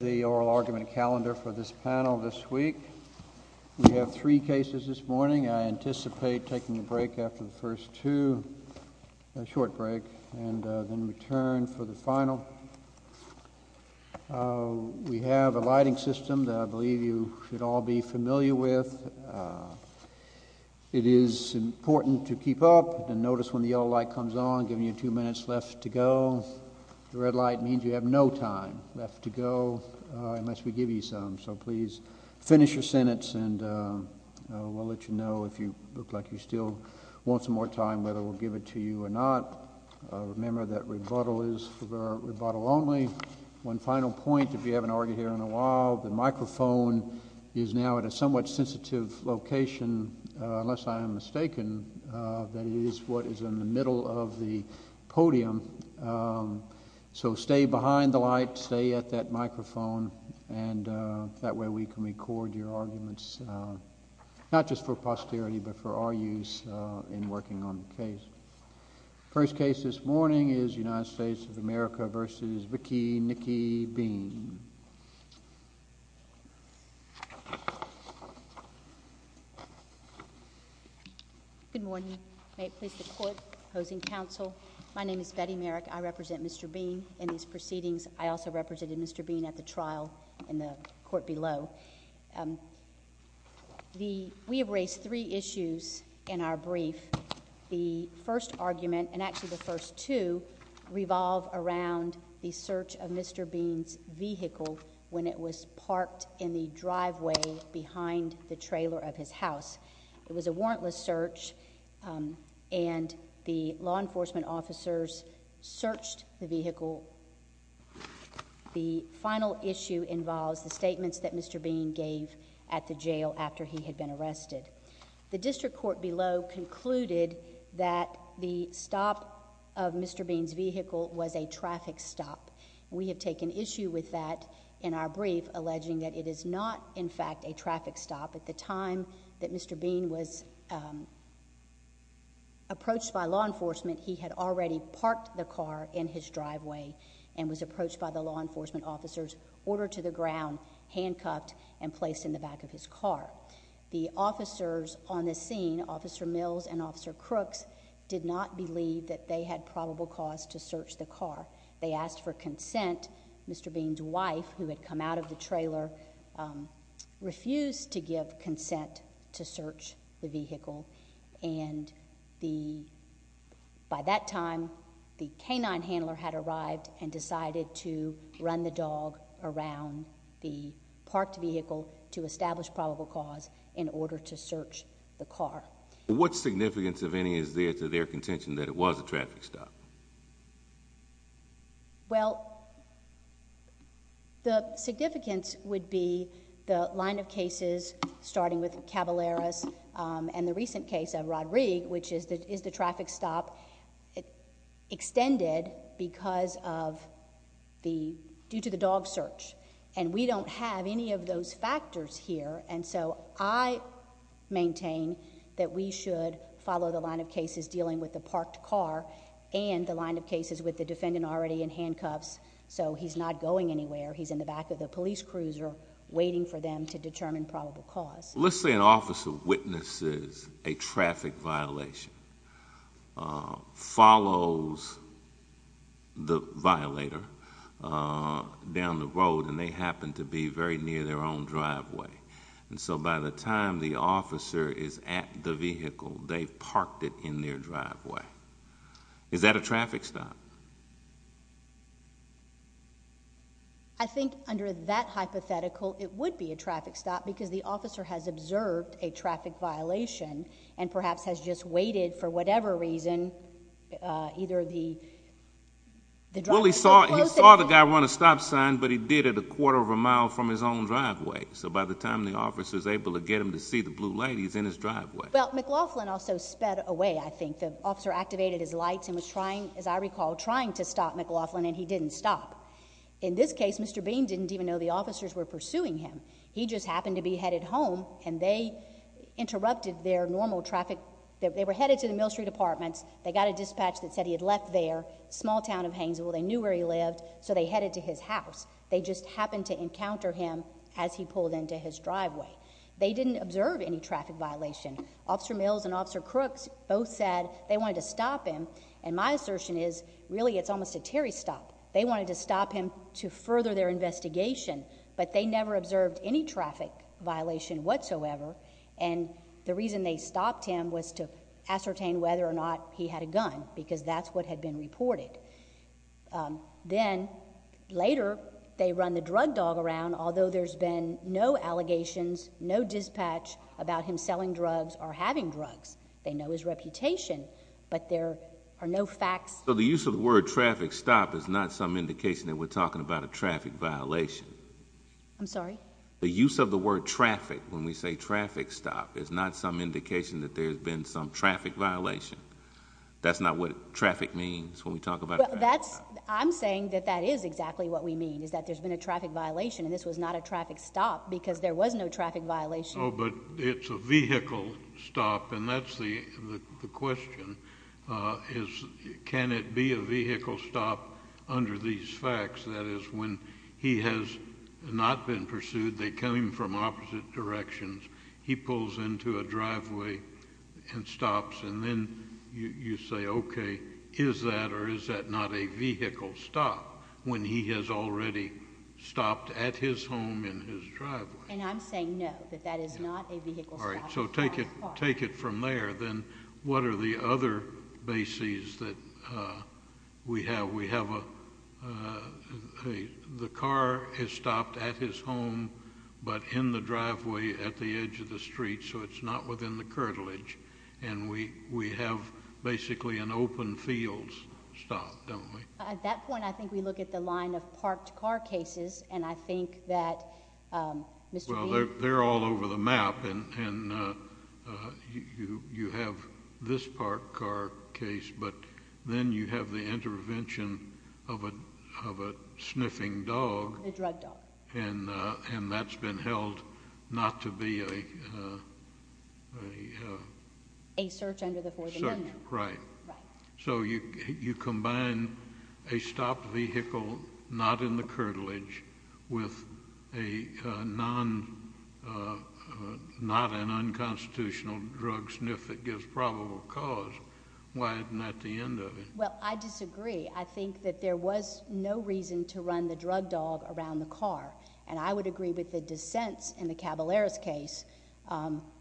The oral argument calendar for this panel this week. We have three cases this morning. I anticipate taking a break after the first two, a short break, and then return for the final. We have a lighting system that I believe you should all be familiar with. It is important to keep up and notice when the yellow light comes on, giving you two minutes left to go. The red light means you have no time left to go unless we give you some, so please finish your sentence and we'll let you know if you look like you still want some more time, whether we'll give it to you or not. Remember that rebuttal is for rebuttal only. One final point, if you haven't argued here in a while, the microphone is now at a somewhat sensitive location, unless I am mistaken, that it is what is in the middle of the podium, so stay behind the light, stay at that microphone, and that way we can record your arguments, not just for posterity, but for our use in working on the case. First case this morning is United States of America v. Vicki Niki Bean. Good morning. May it please the court, opposing counsel, my name is Betty Merrick. I represent Mr. Bean in these proceedings. I also represented Mr. Bean at the trial in the court below. We have raised three issues in our brief. The first argument, and actually the first two, revolve around the search of Mr. Bean's vehicle when it was parked in the driveway behind the trailer of his house. It was a warrantless search, and the law enforcement officers searched the vehicle. The final issue involves the statements that Mr. Bean gave at the jail after he had been arrested. The district court below concluded that the stop of Mr. Bean's vehicle was a traffic stop. We have taken issue with that in our brief, alleging that it is not, in fact, a traffic stop. At the time that Mr. Bean was approached by law enforcement, he had already parked the car in his driveway and was approached by the law enforcement officers, ordered to the ground, handcuffed, and placed in the back of his car. The officers on the scene, Officer Mills and Officer Crooks, did not believe that they had probable cause to search the car. They asked for consent. Mr. Bean's wife, who had come out of the trailer, refused to give consent to search the vehicle. By that time, the canine handler had arrived and decided to run the dog around the parked vehicle to establish probable cause in order to search the car. What significance, if any, is there to their contention that it was a traffic stop? Well, the significance would be the line of cases, starting with Cavallaris and the recent case of Rod Reig, which is the traffic stop, extended due to the dog search. And we don't have any of those factors here, and so I maintain that we should follow the line of cases dealing with the parked car and the line of cases with the defendant already in handcuffs, so he's not going anywhere. He's in the back of the police cruiser, waiting for them to determine probable cause. Let's say an officer witnesses a traffic violation, follows the violator down the road, and they happen to be very near their own driveway. And so by the time the officer is at the vehicle, they've parked it in their driveway. Is that a traffic stop? I think under that hypothetical, it would be a traffic stop because the officer has observed a traffic violation and perhaps has just waited for whatever reason. Well, he saw the guy run a stop sign, but he did it a quarter of a mile from his own driveway. So by the time the officer is able to get him to see the blue light, he's in his driveway. Well, McLaughlin also sped away, I think. The officer activated his lights and was trying, as I recall, trying to stop McLaughlin, and he didn't stop. In this case, Mr. Bean didn't even know the officers were pursuing him. He just happened to be headed home, and they interrupted their normal traffic. They were headed to the Mill Street Apartments. They got a dispatch that said he had left their small town of Hainesville. They knew where he lived, so they headed to his house. They just happened to encounter him as he pulled into his driveway. They didn't observe any traffic violation. Officer Mills and Officer Crooks both said they wanted to stop him, and my assertion is really it's almost a Terry stop. They wanted to stop him to further their investigation, but they never observed any traffic violation whatsoever, and the reason they stopped him was to ascertain whether or not he had a gun because that's what had been reported. Then, later, they run the drug dog around, although there's been no allegations, no dispatch about him selling drugs or having drugs. They know his reputation, but there are no facts. The use of the word traffic stop is not some indication that we're talking about a traffic violation. I'm sorry? The use of the word traffic, when we say traffic stop, is not some indication that there's been some traffic violation. That's not what traffic means when we talk about traffic stop. I'm saying that that is exactly what we mean, is that there's been a traffic violation, and this was not a traffic stop because there was no traffic violation. Oh, but it's a vehicle stop, and that's the question. Can it be a vehicle stop under these facts? That is, when he has not been pursued, they come from opposite directions, he pulls into a driveway and stops, and then you say, okay, is that or is that not a vehicle stop when he has already stopped at his home in his driveway? And I'm saying no, that that is not a vehicle stop. All right, so take it from there. Then what are the other bases that we have? We have a, the car is stopped at his home, but in the driveway at the edge of the street, so it's not within the curtilage, and we have basically an open field stop, don't we? At that point, I think we look at the line of parked car cases, and I think that, Mr. Beale— Well, they're all over the map, and you have this parked car case, but then you have the intervention of a sniffing dog. A drug dog. And that's been held not to be a— A search under the Fourth Amendment. Right. So you combine a stopped vehicle not in the curtilage with a non, not an unconstitutional drug sniff that gives probable cause. Why isn't that the end of it? Well, I disagree. I think that there was no reason to run the drug dog around the car, and I would agree with the dissents in the Cavallaris case,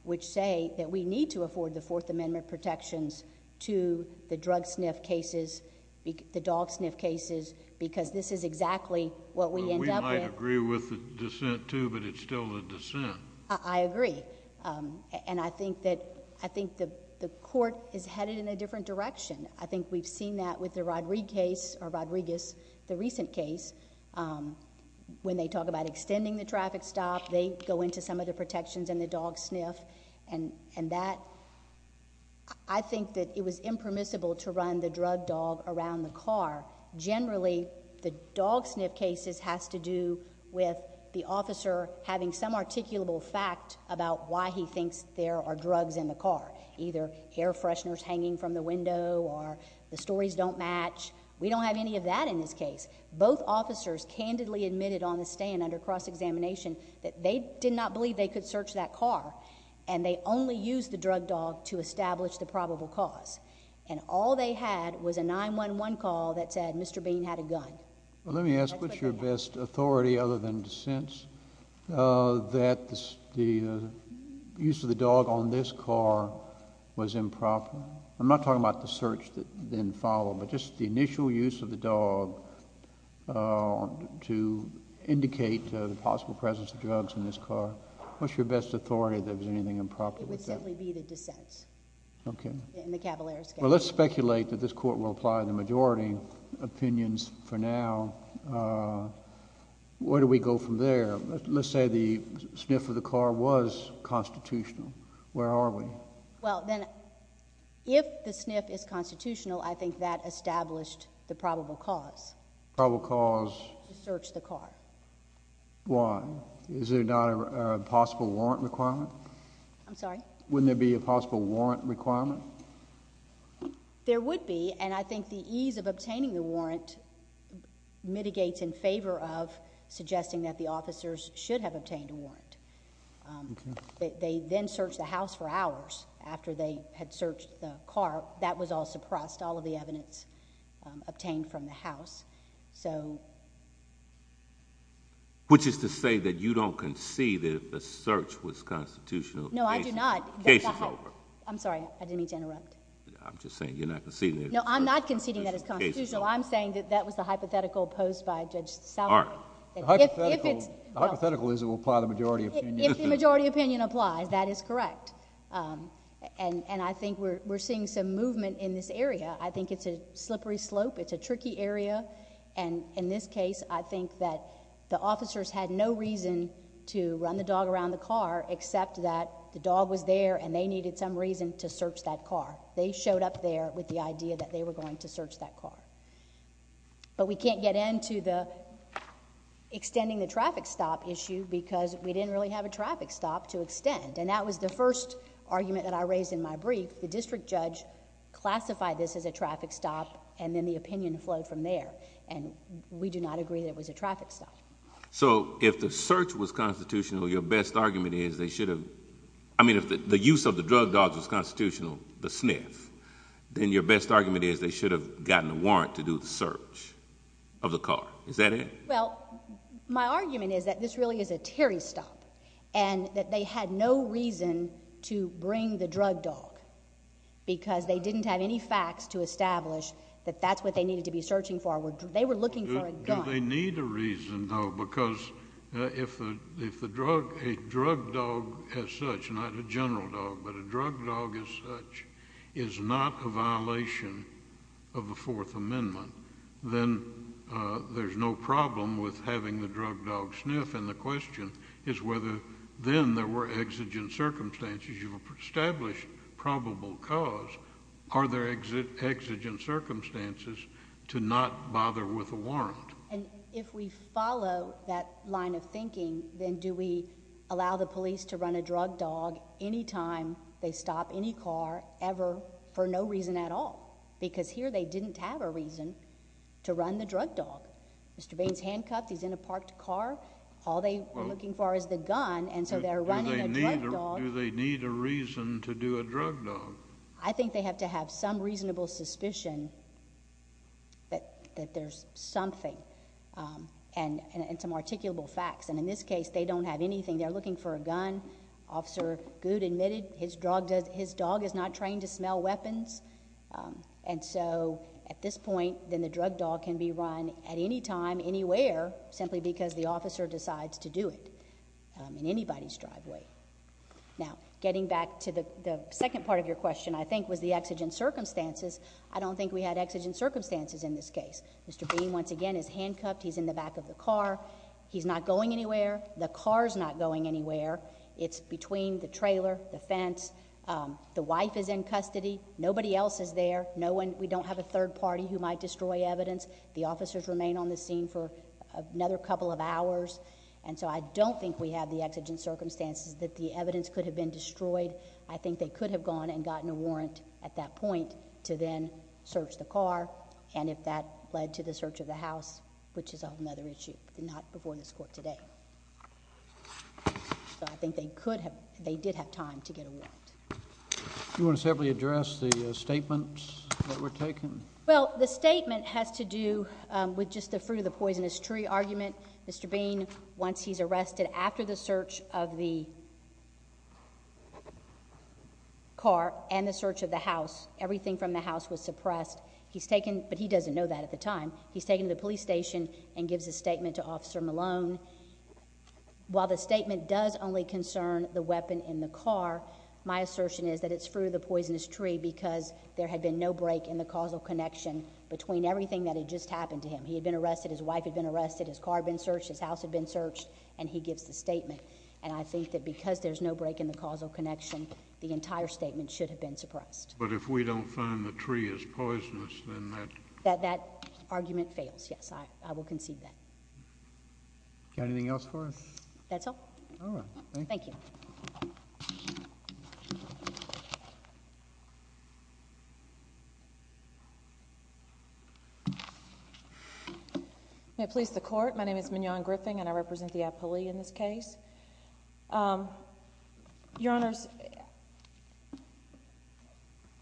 which say that we need to afford the Fourth Amendment protections to the drug sniff cases, the dog sniff cases, because this is exactly what we end up with. We might agree with the dissent, too, but it's still the dissent. I agree. And I think that the court is headed in a different direction. I think we've seen that with the Rodriguez case, the recent case, when they talk about extending the traffic stop, they go into some of the protections and the dog sniff, and that, I think that it was impermissible to run the drug dog around the car. Generally, the dog sniff cases has to do with the officer having some articulable fact about why he thinks there are drugs in the car, either air fresheners hanging from the window or the stories don't match. We don't have any of that in this case. Both officers candidly admitted on the stand under cross-examination that they did not believe they could search that car, and they only used the drug dog to establish the probable cause. And all they had was a 911 call that said Mr. Bean had a gun. Well, let me ask, what's your best authority, other than dissents, that the use of the dog on this car was improper? I'm not talking about the search that then followed, but just the initial use of the dog to indicate the possible presence of drugs in this car. What's your best authority that there was anything improper with that? It would simply be the dissents. Okay. In the Cavalera case. Well, let's speculate that this Court will apply the majority opinions for now. Where do we go from there? Let's say the sniff of the car was constitutional. Where are we? Well, then, if the sniff is constitutional, I think that established the probable cause. Probable cause? To search the car. Why? Is there not a possible warrant requirement? I'm sorry? Wouldn't there be a possible warrant requirement? There would be, and I think the ease of obtaining the warrant mitigates in favor of suggesting that the officers should have obtained a warrant. Okay. They then searched the house for hours after they had searched the car. That was all suppressed, all of the evidence obtained from the house. So... Which is to say that you don't concede that the search was constitutional. No, I do not. The case is over. I'm sorry. I didn't mean to interrupt. I'm just saying you're not conceding... No, I'm not conceding that it's constitutional. I'm saying that that was the hypothetical posed by Judge Salamone. All right. If it's... The hypothetical is it will apply the majority opinion. If the majority opinion applies, that is correct. And I think we're seeing some movement in this area. I think it's a slippery slope. It's a tricky area. And in this case, I think that the officers had no reason to run the dog around the car except that the dog was there and they needed some reason to search that car. They showed up there with the idea that they were going to search that car. But we can't get into the extending the traffic stop issue because we didn't really have a traffic stop to extend. And that was the first argument that I raised in my brief. The district judge classified this as a traffic stop and then the opinion flowed from there. And we do not agree that it was a traffic stop. So if the search was constitutional, your best argument is they should have... I mean, if the use of the drug dogs was constitutional, the sniff, then your best argument is they should have gotten a warrant to do the search of the car. Is that it? Well, my argument is that this really is a Terry stop and that they had no reason to bring the drug dog because they didn't have any facts to establish that that's what they needed to be searching for. They were looking for a gun. No, because if the drug... a drug dog as such, not a general dog, but a drug dog as such is not a violation of the Fourth Amendment, then there's no problem with having the drug dog sniff. And the question is whether then there were exigent circumstances. You've established probable cause. Are there exigent circumstances to not bother with a warrant? And if we follow that line of thinking, then do we allow the police to run a drug dog any time they stop any car ever for no reason at all? Because here they didn't have a reason to run the drug dog. Mr. Baines handcuffed. He's in a parked car. All they're looking for is the gun, and so they're running a drug dog. Do they need a reason to do a drug dog? I think they have to have some reasonable suspicion that there's something and some articulable facts. And in this case, they don't have anything. They're looking for a gun. Officer Good admitted his dog is not trained to smell weapons. And so at this point, then the drug dog can be run at any time, anywhere, simply because the officer decides to do it in anybody's driveway. Now, getting back to the second part of your question, I think, was the exigent circumstances. I don't think we had exigent circumstances in this case. Mr. Baines, once again, is handcuffed. He's in the back of the car. He's not going anywhere. The car's not going anywhere. It's between the trailer, the fence. The wife is in custody. Nobody else is there. We don't have a third party who might destroy evidence. The officers remain on the scene for another couple of hours. And so I don't think we have the exigent circumstances that the evidence could have been destroyed. I think they could have gone and gotten a warrant at that point to then search the car. And if that led to the search of the house, which is another issue. Not before this court today. So I think they could have, they did have time to get a warrant. Do you want to separately address the statements that were taken? Well, the statement has to do with just the fruit of the poisonous tree argument. Mr. Baines, once he's arrested, after the search of the car and the search of the house, everything from the house was suppressed. He's taken, but he doesn't know that at the time, he's taken to the police station and gives a statement to Officer Malone. While the statement does only concern the weapon in the car, my assertion is that it's fruit of the poisonous tree because there had been no break in the causal connection between everything that had just happened to him. He had been arrested, his wife had been arrested, his car had been searched, his house had been searched, and he gives the statement. And I think that because there's no break in the causal connection, the entire statement should have been suppressed. But if we don't find the tree is poisonous, then that... That argument fails, yes. I will concede that. Got anything else for us? That's all. All right. Thank you. Thank you. May it please the Court, my name is Mignon Griffin, and I represent the appellee in this case. Your Honors,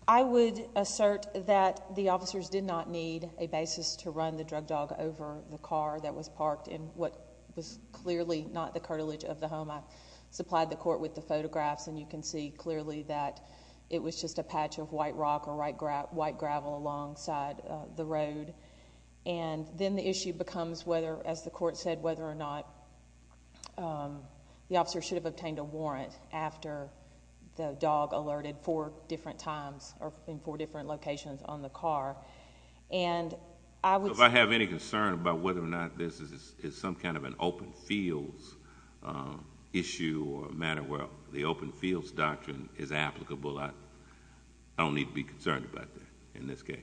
I would assert that the officers did not need a basis to run the drug dog over the car that was parked in what was clearly not the cartilage of the home. I supplied the Court with the photographs, and you can see clearly that it was just a patch of white rock or white gravel alongside the road. And then the issue becomes whether, as the Court said, whether or not the officer should have obtained a warrant after the dog alerted four different times or in four different locations on the car. And I would say... If I have any concern about whether or not this is some kind of an open fields issue or matter where the open fields doctrine is applicable, I don't need to be concerned about that in this case.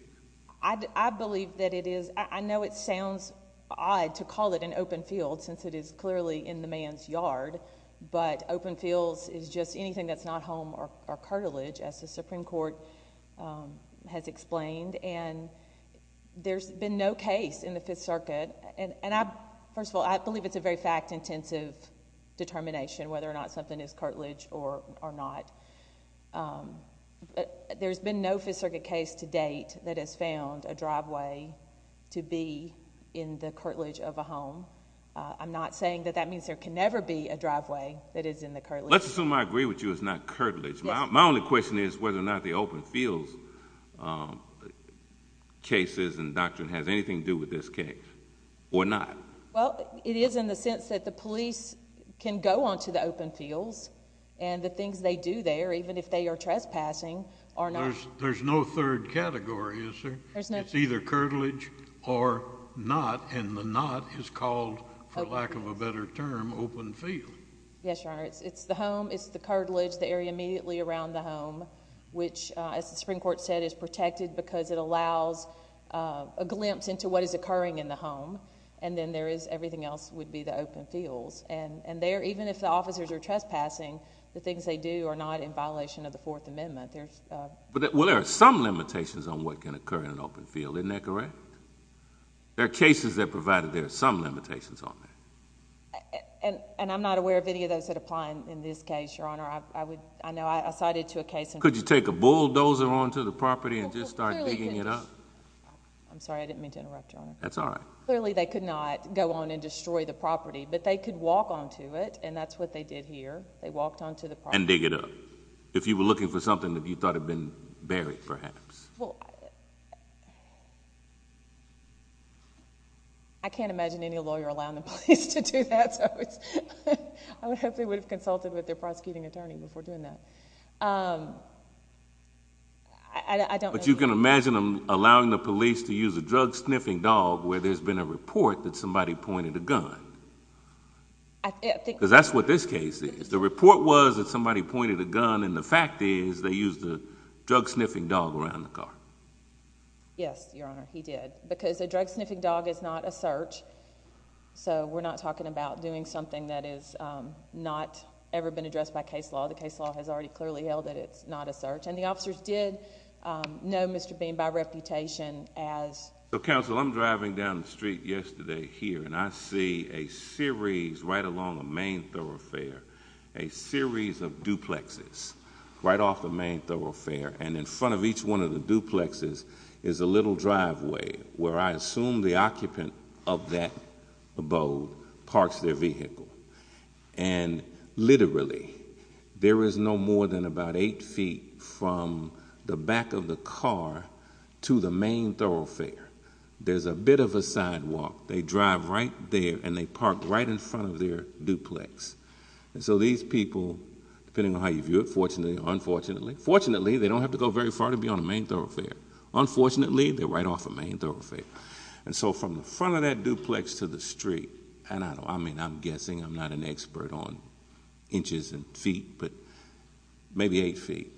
I believe that it is... I know it sounds odd to call it an open field since it is clearly in the man's yard, but open fields is just anything that's not home or cartilage, as the Supreme Court has explained. And there's been no case in the Fifth Circuit, and I... first of all, I believe it's a very fact-intensive determination whether or not something is cartilage or not. There's been no Fifth Circuit case to date that has found a driveway to be in the cartilage of a home. I'm not saying that that means there can never be a driveway that is in the cartilage. Let's assume I agree with you it's not cartilage. My only question is whether or not the open fields cases and doctrine has anything to do with this case or not. Well, it is in the sense that the police can go onto the open fields, and the things they do there, even if they are trespassing, are not... There's no third category, is there? There's no... It's either cartilage or not, and the not is called, for lack of a better term, open field. Yes, Your Honor. It's the home. It's the cartilage, the area immediately around the home, which, as the Supreme Court said, is protected because it allows a glimpse into what is occurring in the home. And then there is... everything else would be the open fields. And there, even if the officers are trespassing, the things they do are not in violation of the Fourth Amendment. There's... Well, there are some limitations on what can occur in an open field. Isn't that correct? There are cases that provide that there are some limitations on that. And I'm not aware of any of those that apply in this case, Your Honor. I know I cited to a case... Could you take a bulldozer onto the property and just start digging it up? I'm sorry. I didn't mean to interrupt, Your Honor. That's all right. Clearly, they could not go on and destroy the property, but they could walk onto it, and that's what they did here. They walked onto the property... And dig it up. If you were looking for something that you thought had been buried, perhaps. Well, I can't imagine any lawyer allowing the police to do that. I would hope they would have consulted with their prosecuting attorney before doing that. I don't know. But you can imagine them allowing the police to use a drug-sniffing dog where there's been a report that somebody pointed a gun. I think... Because that's what this case is. The report was that somebody pointed a gun, and the fact is they used a drug-sniffing dog around the car. Yes, Your Honor. He did. Because a drug-sniffing dog is not a search, so we're not talking about doing something that has not ever been addressed by case law. The case law has already clearly held that it's not a search. And the officers did know Mr. Bean by reputation as... Counsel, I'm driving down the street yesterday here, and I see a series right along the main thoroughfare, a series of duplexes right off the main thoroughfare. And in front of each one of the duplexes is a little driveway where I assume the occupant of that abode parks their vehicle. And literally, there is no more than about eight feet from the back of the car to the main thoroughfare. There's a bit of a sidewalk. They drive right there, and they park right in front of their duplex. And so these people, depending on how you view it, fortunately or unfortunately... Fortunately, they don't have to go very far to be on the main thoroughfare. Unfortunately, they're right off the main thoroughfare. And so, from the front of that duplex to the street... And I mean, I'm guessing I'm not an expert on inches and feet, but maybe eight feet.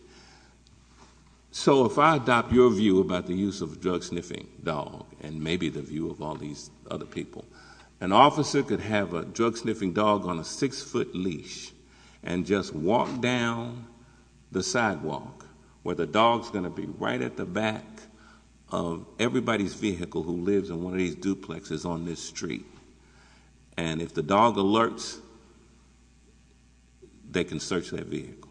So, if I adopt your view about the use of a drug-sniffing dog, and maybe the view of all these other people... An officer could have a drug-sniffing dog on a six-foot leash, and just walk down the sidewalk... Where the dog is going to be right at the back of everybody's vehicle, who lives in one of these duplexes on this street. And, if the dog alerts, they can search that vehicle.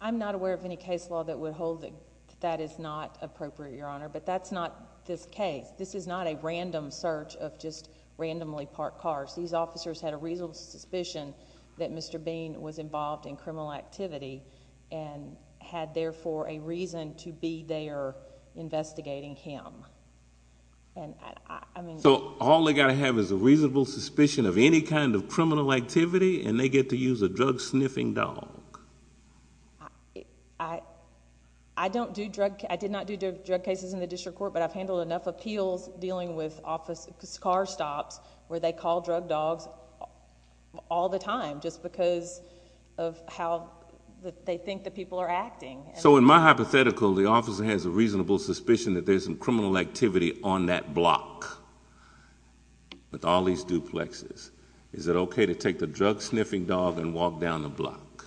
I'm not aware of any case law that would hold that that is not appropriate, Your Honor. But, that's not this case. This is not a random search of just randomly parked cars. These officers had a reasonable suspicion that Mr. Bean was involved in criminal activity... And, therefore, a reason to be there investigating him. And, I mean... So, all they've got to have is a reasonable suspicion of any kind of criminal activity... And, they get to use a drug-sniffing dog. I don't do drug... I did not do drug cases in the district court. But, I've handled enough appeals dealing with car stops, where they call drug dogs all the time. Just because of how they think the people are acting. So, in my hypothetical, the officer has a reasonable suspicion that there's some criminal activity on that block. With all these duplexes. Is it okay to take the drug-sniffing dog and walk down the block?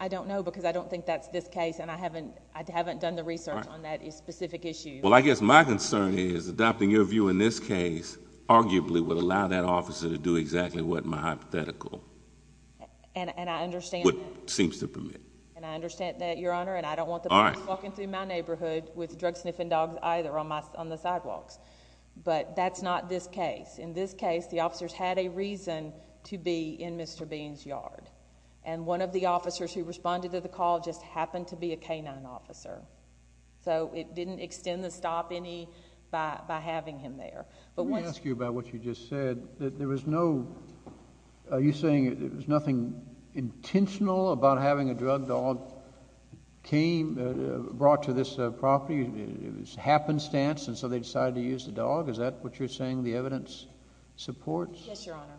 I don't know, because I don't think that's this case. And, I haven't done the research on that specific issue. Well, I guess my concern is adopting your view in this case, arguably, would allow that officer to do exactly what in my hypothetical. And, I understand... What seems to permit. And, I understand that, Your Honor. And, I don't want the police walking through my neighborhood with drug-sniffing dogs, either, on the sidewalks. But, that's not this case. In this case, the officers had a reason to be in Mr. Bean's yard. And, one of the officers who responded to the call just happened to be a canine officer. So, it didn't extend the stop any by having him there. Let me ask you about what you just said. There was no... Are you saying there was nothing intentional about having a drug dog brought to this property? It was happenstance, and so they decided to use the dog? Is that what you're saying the evidence supports? Yes, Your Honor.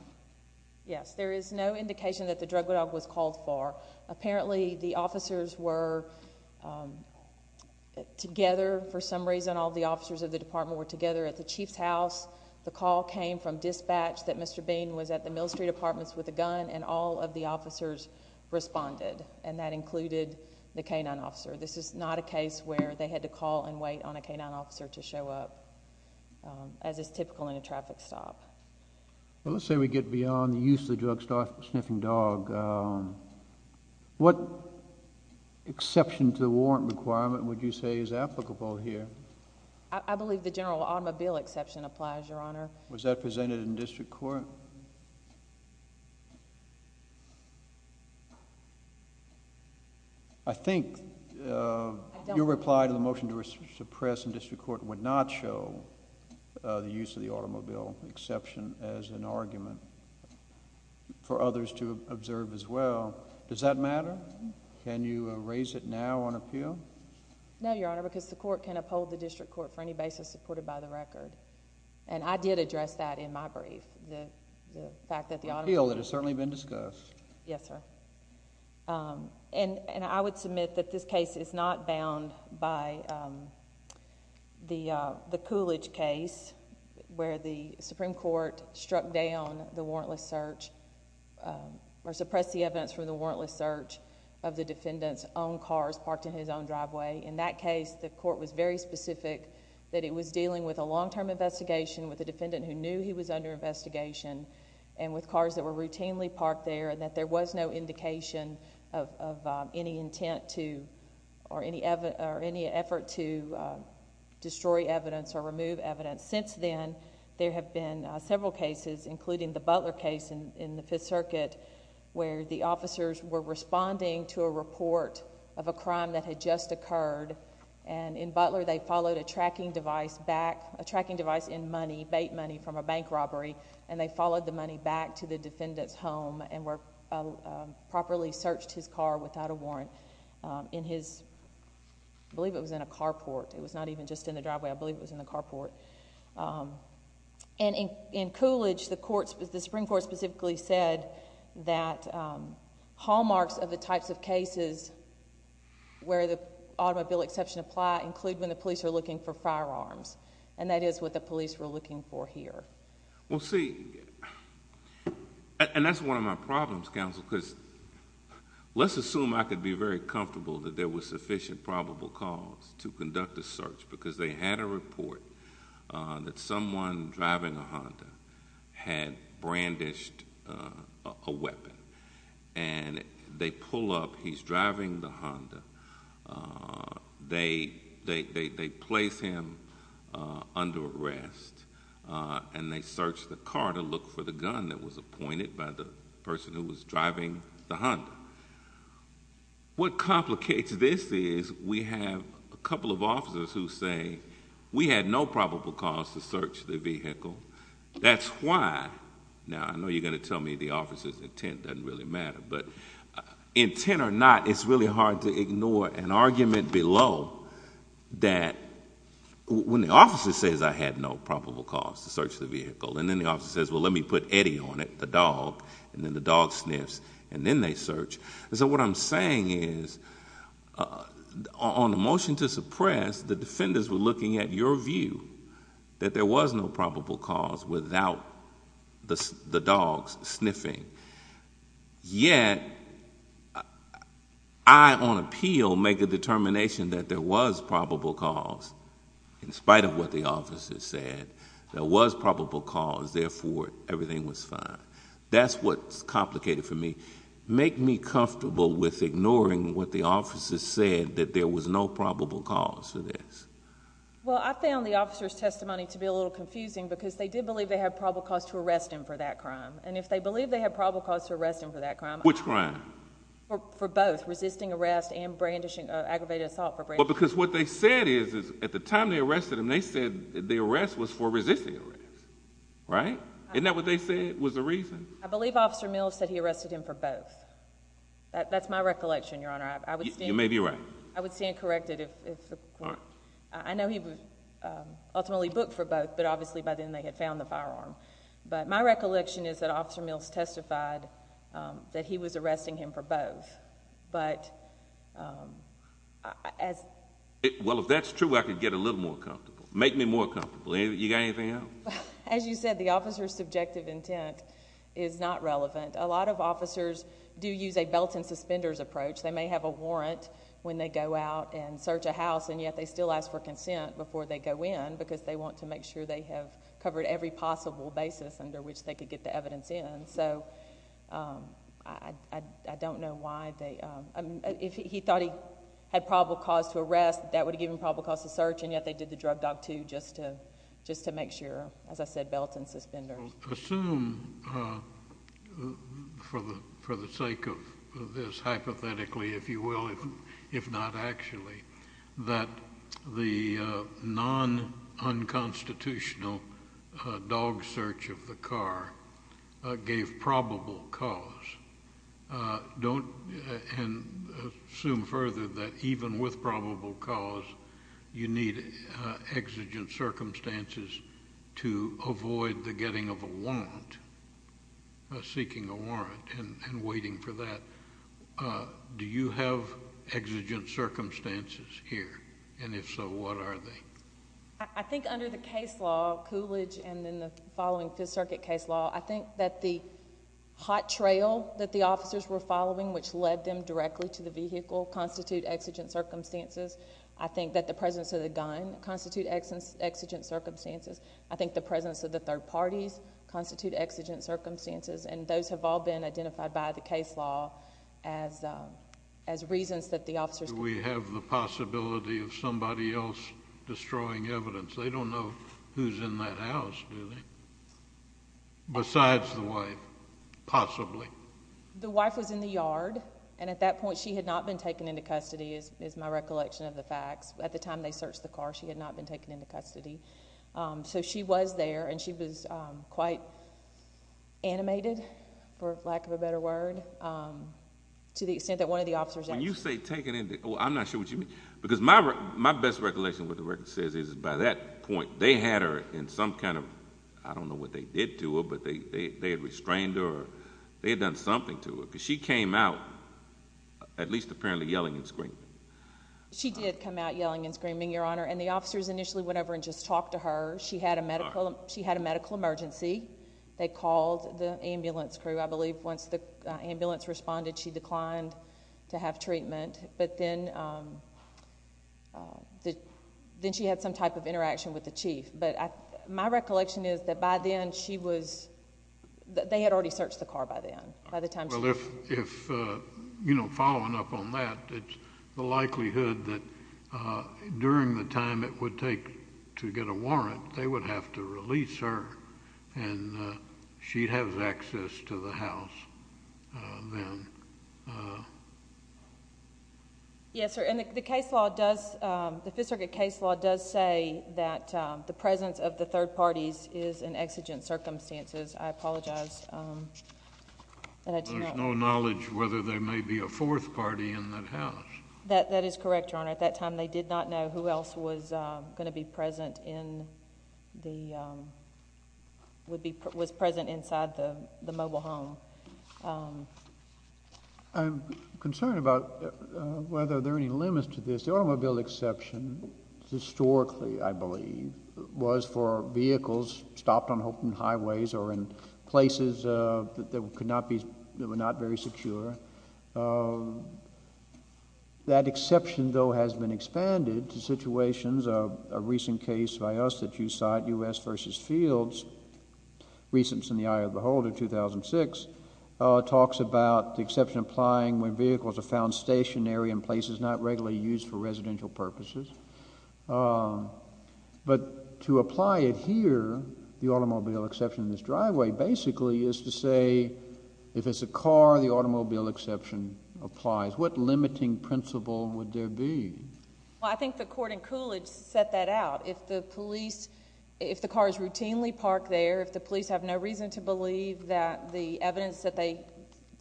Yes, there is no indication that the drug dog was called for. Apparently, the officers were together. For some reason, all the officers of the department were together at the Chief's house. The call came from dispatch that Mr. Bean was at the Mill Street Apartments with a gun, and all of the officers responded. And, that included the canine officer. This is not a case where they had to call and wait on a canine officer to show up, as is typical in a traffic stop. Well, let's say we get beyond the use of the drug-sniffing dog. What exception to the warrant requirement would you say is applicable here? I believe the general automobile exception applies, Your Honor. Was that presented in district court? I think your reply to the motion to suppress in district court would not show the use of the automobile exception as an argument for others to observe as well. Does that matter? Can you raise it now on appeal? No, Your Honor, because the court can uphold the district court for any basis supported by the record. And, I did address that in my brief, the fact that the automobile... Appeal that has certainly been discussed. Yes, sir. And, I would submit that this case is not bound by the Coolidge case, where the Supreme Court struck down the warrantless search, or suppressed the evidence from the warrantless search of the defendant's own cars parked in his own driveway. In that case, the court was very specific that it was dealing with a long-term investigation with a defendant who knew he was under investigation, and with cars that were routinely parked there, and that there was no indication of any intent to... or any effort to destroy evidence or remove evidence. Since then, there have been several cases, including the Butler case in the Fifth Circuit, where the officers were responding to a report of a crime that had just occurred. And, in Butler, they followed a tracking device back... a tracking device in money, bait money from a bank robbery, and they followed the money back to the defendant's home and were... properly searched his car without a warrant in his... I believe it was in a carport. It was not even just in the driveway. I believe it was in the carport. And, in Coolidge, the Supreme Court specifically said that hallmarks of the types of cases where the automobile exception apply, include when the police are looking for firearms. And, that is what the police were looking for here. Well, see... and that's one of my problems, Counsel, because... let's assume I could be very comfortable that there was sufficient probable cause to conduct a search, because they had a report that someone driving a Honda had brandished a weapon. And, they pull up. He's driving the Honda. They place him under arrest. And, they search the car to look for the gun that was appointed by the person who was driving the Honda. What complicates this is, we have a couple of officers who say, we had no probable cause to search the vehicle. That's why... now, I know you're going to tell me the officer's intent doesn't really matter. But, intent or not, it's really hard to ignore an argument below that... when the officer says, I had no probable cause to search the vehicle, and then the officer says, well, let me put Eddie on it, the dog, and then the dog sniffs, and then they search. So, what I'm saying is, on the motion to suppress, the defenders were looking at your view, that there was no probable cause, without the dogs sniffing. Yet, I, on appeal, make a determination that there was probable cause, in spite of what the officer said. There was probable cause, therefore, everything was fine. That's what's complicated for me. Make me comfortable with ignoring what the officer said, that there was no probable cause for this. Well, I found the officer's testimony to be a little confusing, because they did believe they had probable cause to arrest him for that crime. And, if they believe they had probable cause to arrest him for that crime... Which crime? For both, resisting arrest and brandishing, aggravated assault for brandishing. Well, because what they said is, at the time they arrested him, they said the arrest was for resisting arrest. Right? Isn't that what they said was the reason? I believe Officer Mills said he arrested him for both. That's my recollection, Your Honor. You may be right. I would stand corrected if... All right. I know he was ultimately booked for both, but obviously, by then, they had found the firearm. But, my recollection is that Officer Mills testified that he was arresting him for both. But, as... Well, if that's true, I could get a little more comfortable. Make me more comfortable. You got anything else? As you said, the officer's subjective intent is not relevant. A lot of officers do use a belt and suspenders approach. They may have a warrant when they go out and search a house, and yet they still ask for consent before they go in, because they want to make sure they have covered every possible basis under which they could get the evidence in. So, I don't know why they... If he thought he had probable cause to arrest, that would have given him probable cause to search, and yet they did the drug dog, too, just to make sure, as I said, belts and suspenders. Assume, for the sake of this, hypothetically, if you will, if not actually, that the non-unconstitutional dog search of the car gave probable cause. Don't assume further that even with probable cause, you need exigent circumstances to avoid the getting of a warrant, seeking a warrant, and waiting for that. Do you have exigent circumstances here? And, if so, what are they? I think under the case law, Coolidge and then the following Fifth Circuit case law, I think that the hot trail that the officers were following, which led them directly to the vehicle, constitute exigent circumstances. I think that the presence of the gun constitute exigent circumstances. I think the presence of the third parties constitute exigent circumstances, and those have all been identified by the case law as reasons that the officers... Do we have the possibility of somebody else destroying evidence? They don't know who's in that house, do they? Besides the wife, possibly. The wife was in the yard, and at that point she had not been taken into custody, is my recollection of the facts. At the time they searched the car, she had not been taken into custody. So she was there, and she was quite animated, for lack of a better word, to the extent that one of the officers... When you say taken into... I'm not sure what you mean. Because my best recollection of what the record says is by that point, they had her in some kind of... I don't know what they did to her, but they had restrained her, or they had done something to her. Because she came out, at least apparently, yelling and screaming. She did come out yelling and screaming, Your Honor. And the officers initially went over and just talked to her. She had a medical emergency. They called the ambulance crew. I believe once the ambulance responded, she declined to have treatment. But then she had some type of interaction with the chief. But my recollection is that by then, she was... they had already searched the car by then. By the time she... Well, if... you know, following up on that, it's the likelihood that during the time it would take to get a warrant, they would have to release her, and she'd have access to the house then. Yes, sir. And the case law does... the Fifth Circuit case law does say that the presence of the third parties is in exigent circumstances. I apologize. There's no knowledge whether there may be a fourth party in that house. That is correct, Your Honor. At that time, they did not know who else was going to be present in the... would be... was present inside the mobile home. I'm concerned about whether there are any limits to this. The automobile exception, historically, I believe, was for vehicles stopped on open highways or in places that could not be... that were not very secure. That exception, though, has been expanded to situations of... a recent case by us that you cite, U.S. v. Fields, Recents and the Eye of the Holder, 2006, talks about the exception applying when vehicles are found stationary in places not regularly used for residential purposes. But to apply it here, the automobile exception in this driveway, basically, is to say if it's a car, the automobile exception applies. What limiting principle would there be? Well, I think the court in Coolidge set that out. If the police... if the car is routinely parked there, if the police have no reason to believe that the evidence that they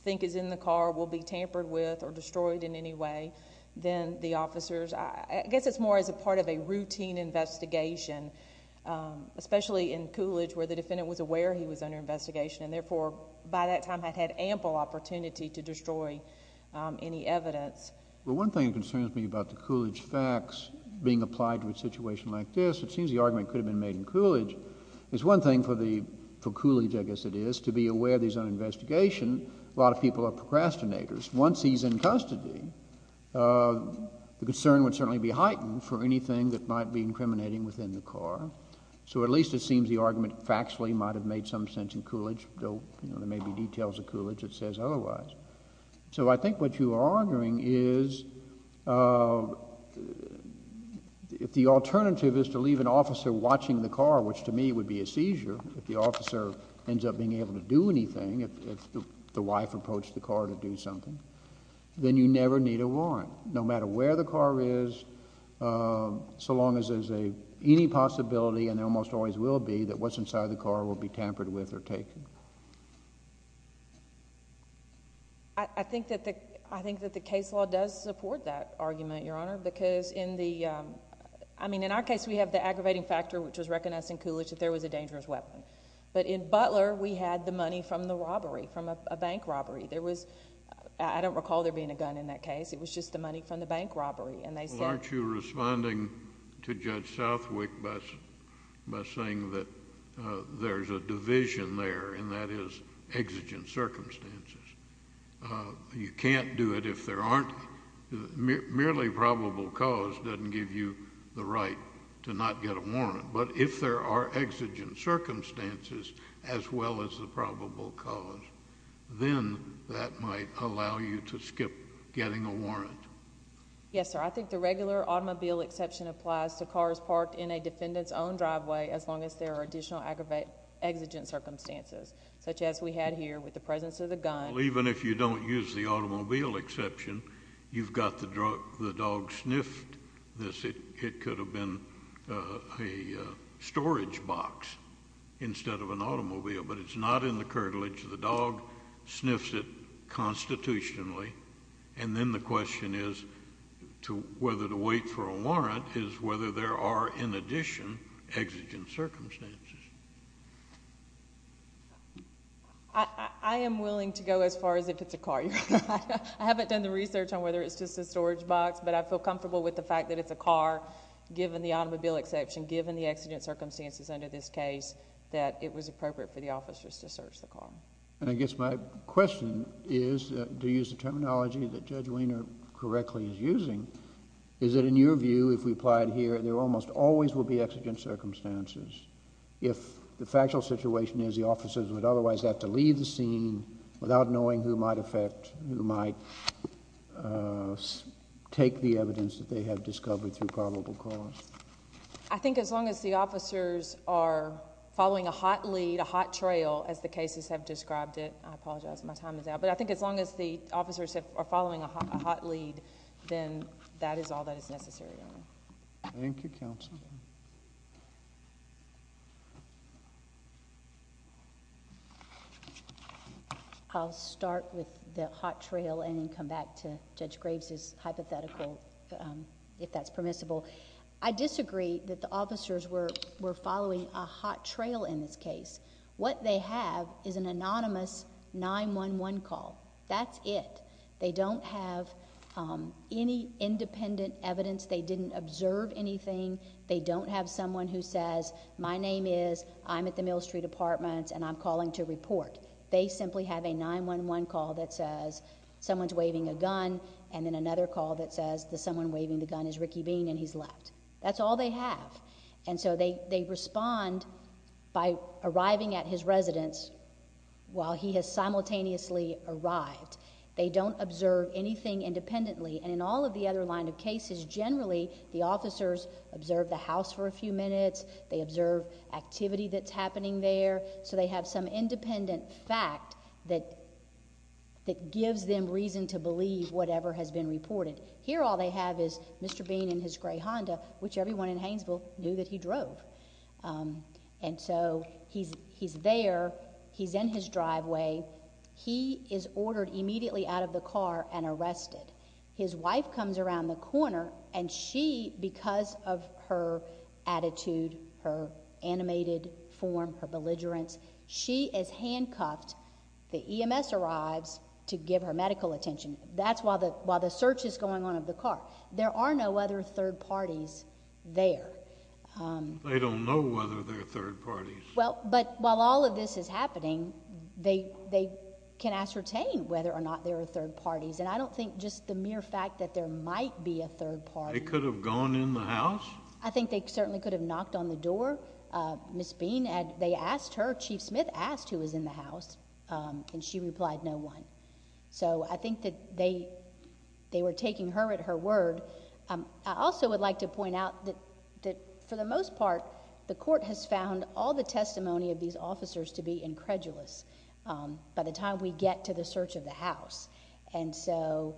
think is in the car will be tampered with or destroyed in any way, then the officers... I guess it's more as a part of a routine investigation, especially in Coolidge where the defendant was aware he was under investigation and, therefore, by that time had had ample opportunity to destroy any evidence. Well, one thing that concerns me about the Coolidge facts being applied to a situation like this, it seems the argument could have been made in Coolidge. It's one thing for Coolidge, I guess it is, to be aware that he's under investigation. A lot of people are procrastinators. Once he's in custody, the concern would certainly be heightened for anything that might be incriminating within the car. So at least it seems the argument factually might have made some sense in Coolidge, though there may be details of Coolidge that says otherwise. So I think what you are arguing is if the alternative is to leave an officer watching the car, which to me would be a seizure if the officer ends up being able to do anything, if the wife approached the car to do something, then you never need a warrant. No matter where the car is, so long as there's any possibility, and there almost always will be, that what's inside the car will be tampered with or taken. I think that the case law does support that argument, Your Honor, because in our case we have the aggravating factor, which was recognized in Coolidge, that there was a dangerous weapon. But in Butler we had the money from the robbery, from a bank robbery. I don't recall there being a gun in that case. It was just the money from the bank robbery, and they said... Well, aren't you responding to Judge Southwick by saying that there's a division there, and that is exigent circumstances. You can't do it if there aren't... Merely probable cause doesn't give you the right to not get a warrant, but if there are exigent circumstances as well as the probable cause, then that might allow you to skip getting a warrant. Yes, sir. I think the regular automobile exception applies to cars parked in a defendant's own driveway as long as there are additional exigent circumstances, such as we had here with the presence of the gun. Even if you don't use the automobile exception, you've got the dog sniffed this. It could have been a storage box instead of an automobile, but it's not in the curtilage. The dog sniffs it constitutionally, and then the question is whether to wait for a warrant is whether there are, in addition, exigent circumstances. I am willing to go as far as if it's a car. I haven't done the research on whether it's just a storage box, but I feel comfortable with the fact that it's a car, given the automobile exception, given the exigent circumstances under this case, that it was appropriate for the officers to search the car. I guess my question is, to use the terminology that Judge Wiener correctly is using, is that in your view, if we apply it here, there almost always will be exigent circumstances. If the factual situation is the officers would otherwise have to leave the scene without knowing who might affect, who might take the evidence that they have discovered through probable cause. I think as long as the officers are following a hot lead, a hot trail, as the cases have described it. I apologize, my time is out. But I think as long as the officers are following a hot lead, then that is all that is necessary. Thank you, Counsel. I'll start with the hot trail and then come back to Judge Graves' hypothetical, if that's permissible. I disagree that the officers were following a hot trail in this case. What they have is an anonymous 9-1-1 call. That's it. They don't have any independent evidence. They didn't observe anything. They don't have someone who says, my name is, I'm at the Mill Street Apartments and I'm calling to report. They simply have a 9-1-1 call that says, someone's waving a gun, and then another call that says, the someone waving the gun is Ricky Bean and he's left. That's all they have. And so they respond by arriving at his residence while he has simultaneously arrived. They don't observe anything independently. And in all of the other line of cases, generally the officers observe the house for a few minutes. They observe activity that's happening there. So they have some independent fact that gives them reason to believe whatever has been reported. Here all they have is Mr. Bean in his gray Honda, which everyone in Hainesville knew that he drove. And so he's there. He's in his driveway. He is ordered immediately out of the car and arrested. His wife comes around the corner, and she, because of her attitude, her animated form, her belligerence, she is handcuffed. The EMS arrives to give her medical attention. That's while the search is going on of the car. There are no other third parties there. They don't know whether there are third parties. Well, but while all of this is happening, they can ascertain whether or not there are third parties. And I don't think just the mere fact that there might be a third party. They could have gone in the house? I think they certainly could have knocked on the door. Ms. Bean, they asked her, Chief Smith asked who was in the house, and she replied no one. So I think that they were taking her at her word. I also would like to point out that for the most part the court has found all the testimony of these officers to be incredulous by the time we get to the search of the house. And so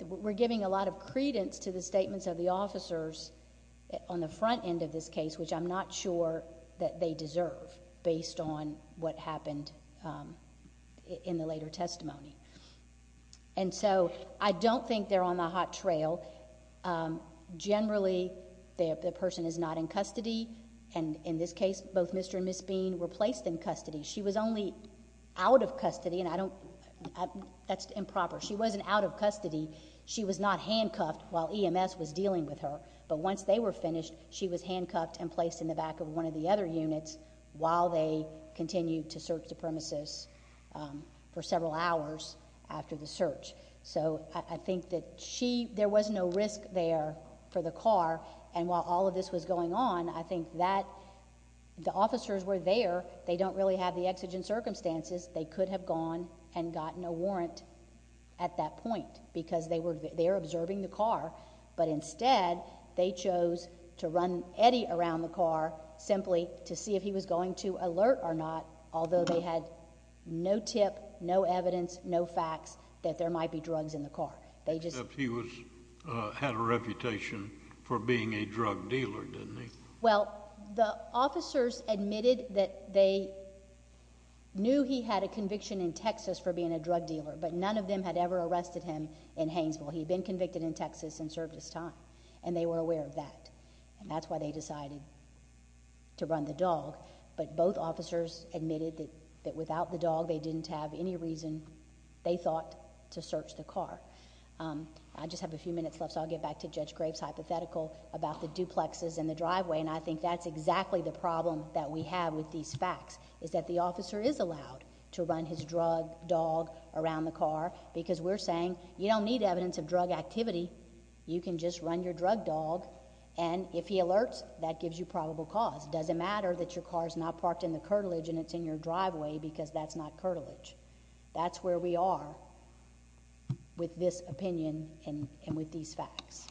we're giving a lot of credence to the statements of the officers on the front end of this case, which I'm not sure that they deserve based on what happened in the later testimony. And so I don't think they're on the hot trail. Generally, the person is not in custody, and in this case both Mr. and Ms. Bean were placed in custody. She was only out of custody, and that's improper. She wasn't out of custody. She was not handcuffed while EMS was dealing with her. But once they were finished, she was handcuffed and placed in the back of one of the other units while they continued to search the premises for several hours after the search. So I think that there was no risk there for the car, and while all of this was going on, I think that the officers were there. They don't really have the exigent circumstances. They could have gone and gotten a warrant at that point because they were there observing the car, but instead they chose to run Eddie around the car simply to see if he was going to alert or not, although they had no tip, no evidence, no facts that there might be drugs in the car. Except he had a reputation for being a drug dealer, didn't he? Well, the officers admitted that they knew he had a conviction in Texas for being a drug dealer, but none of them had ever arrested him in Hainesville. He had been convicted in Texas and served his time, and they were aware of that, and that's why they decided to run the dog. But both officers admitted that without the dog, they didn't have any reason, they thought, to search the car. I just have a few minutes left, so I'll get back to Judge Graves' hypothetical about the duplexes and the driveway, and I think that's exactly the problem that we have with these facts, is that the officer is allowed to run his drug dog around the car because we're saying you don't need evidence of drug activity. You can just run your drug dog, and if he alerts, that gives you probable cause. It doesn't matter that your car is not parked in the curtilage and it's in your driveway because that's not curtilage. That's where we are with this opinion and with these facts.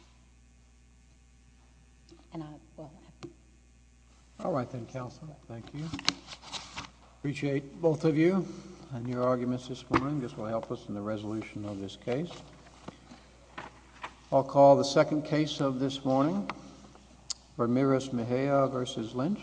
All right then, counsel. Thank you. I appreciate both of you and your arguments this morning. This will help us in the resolution of this case. I'll call the second case of this morning, Ramirez-Mejia v. Lynch.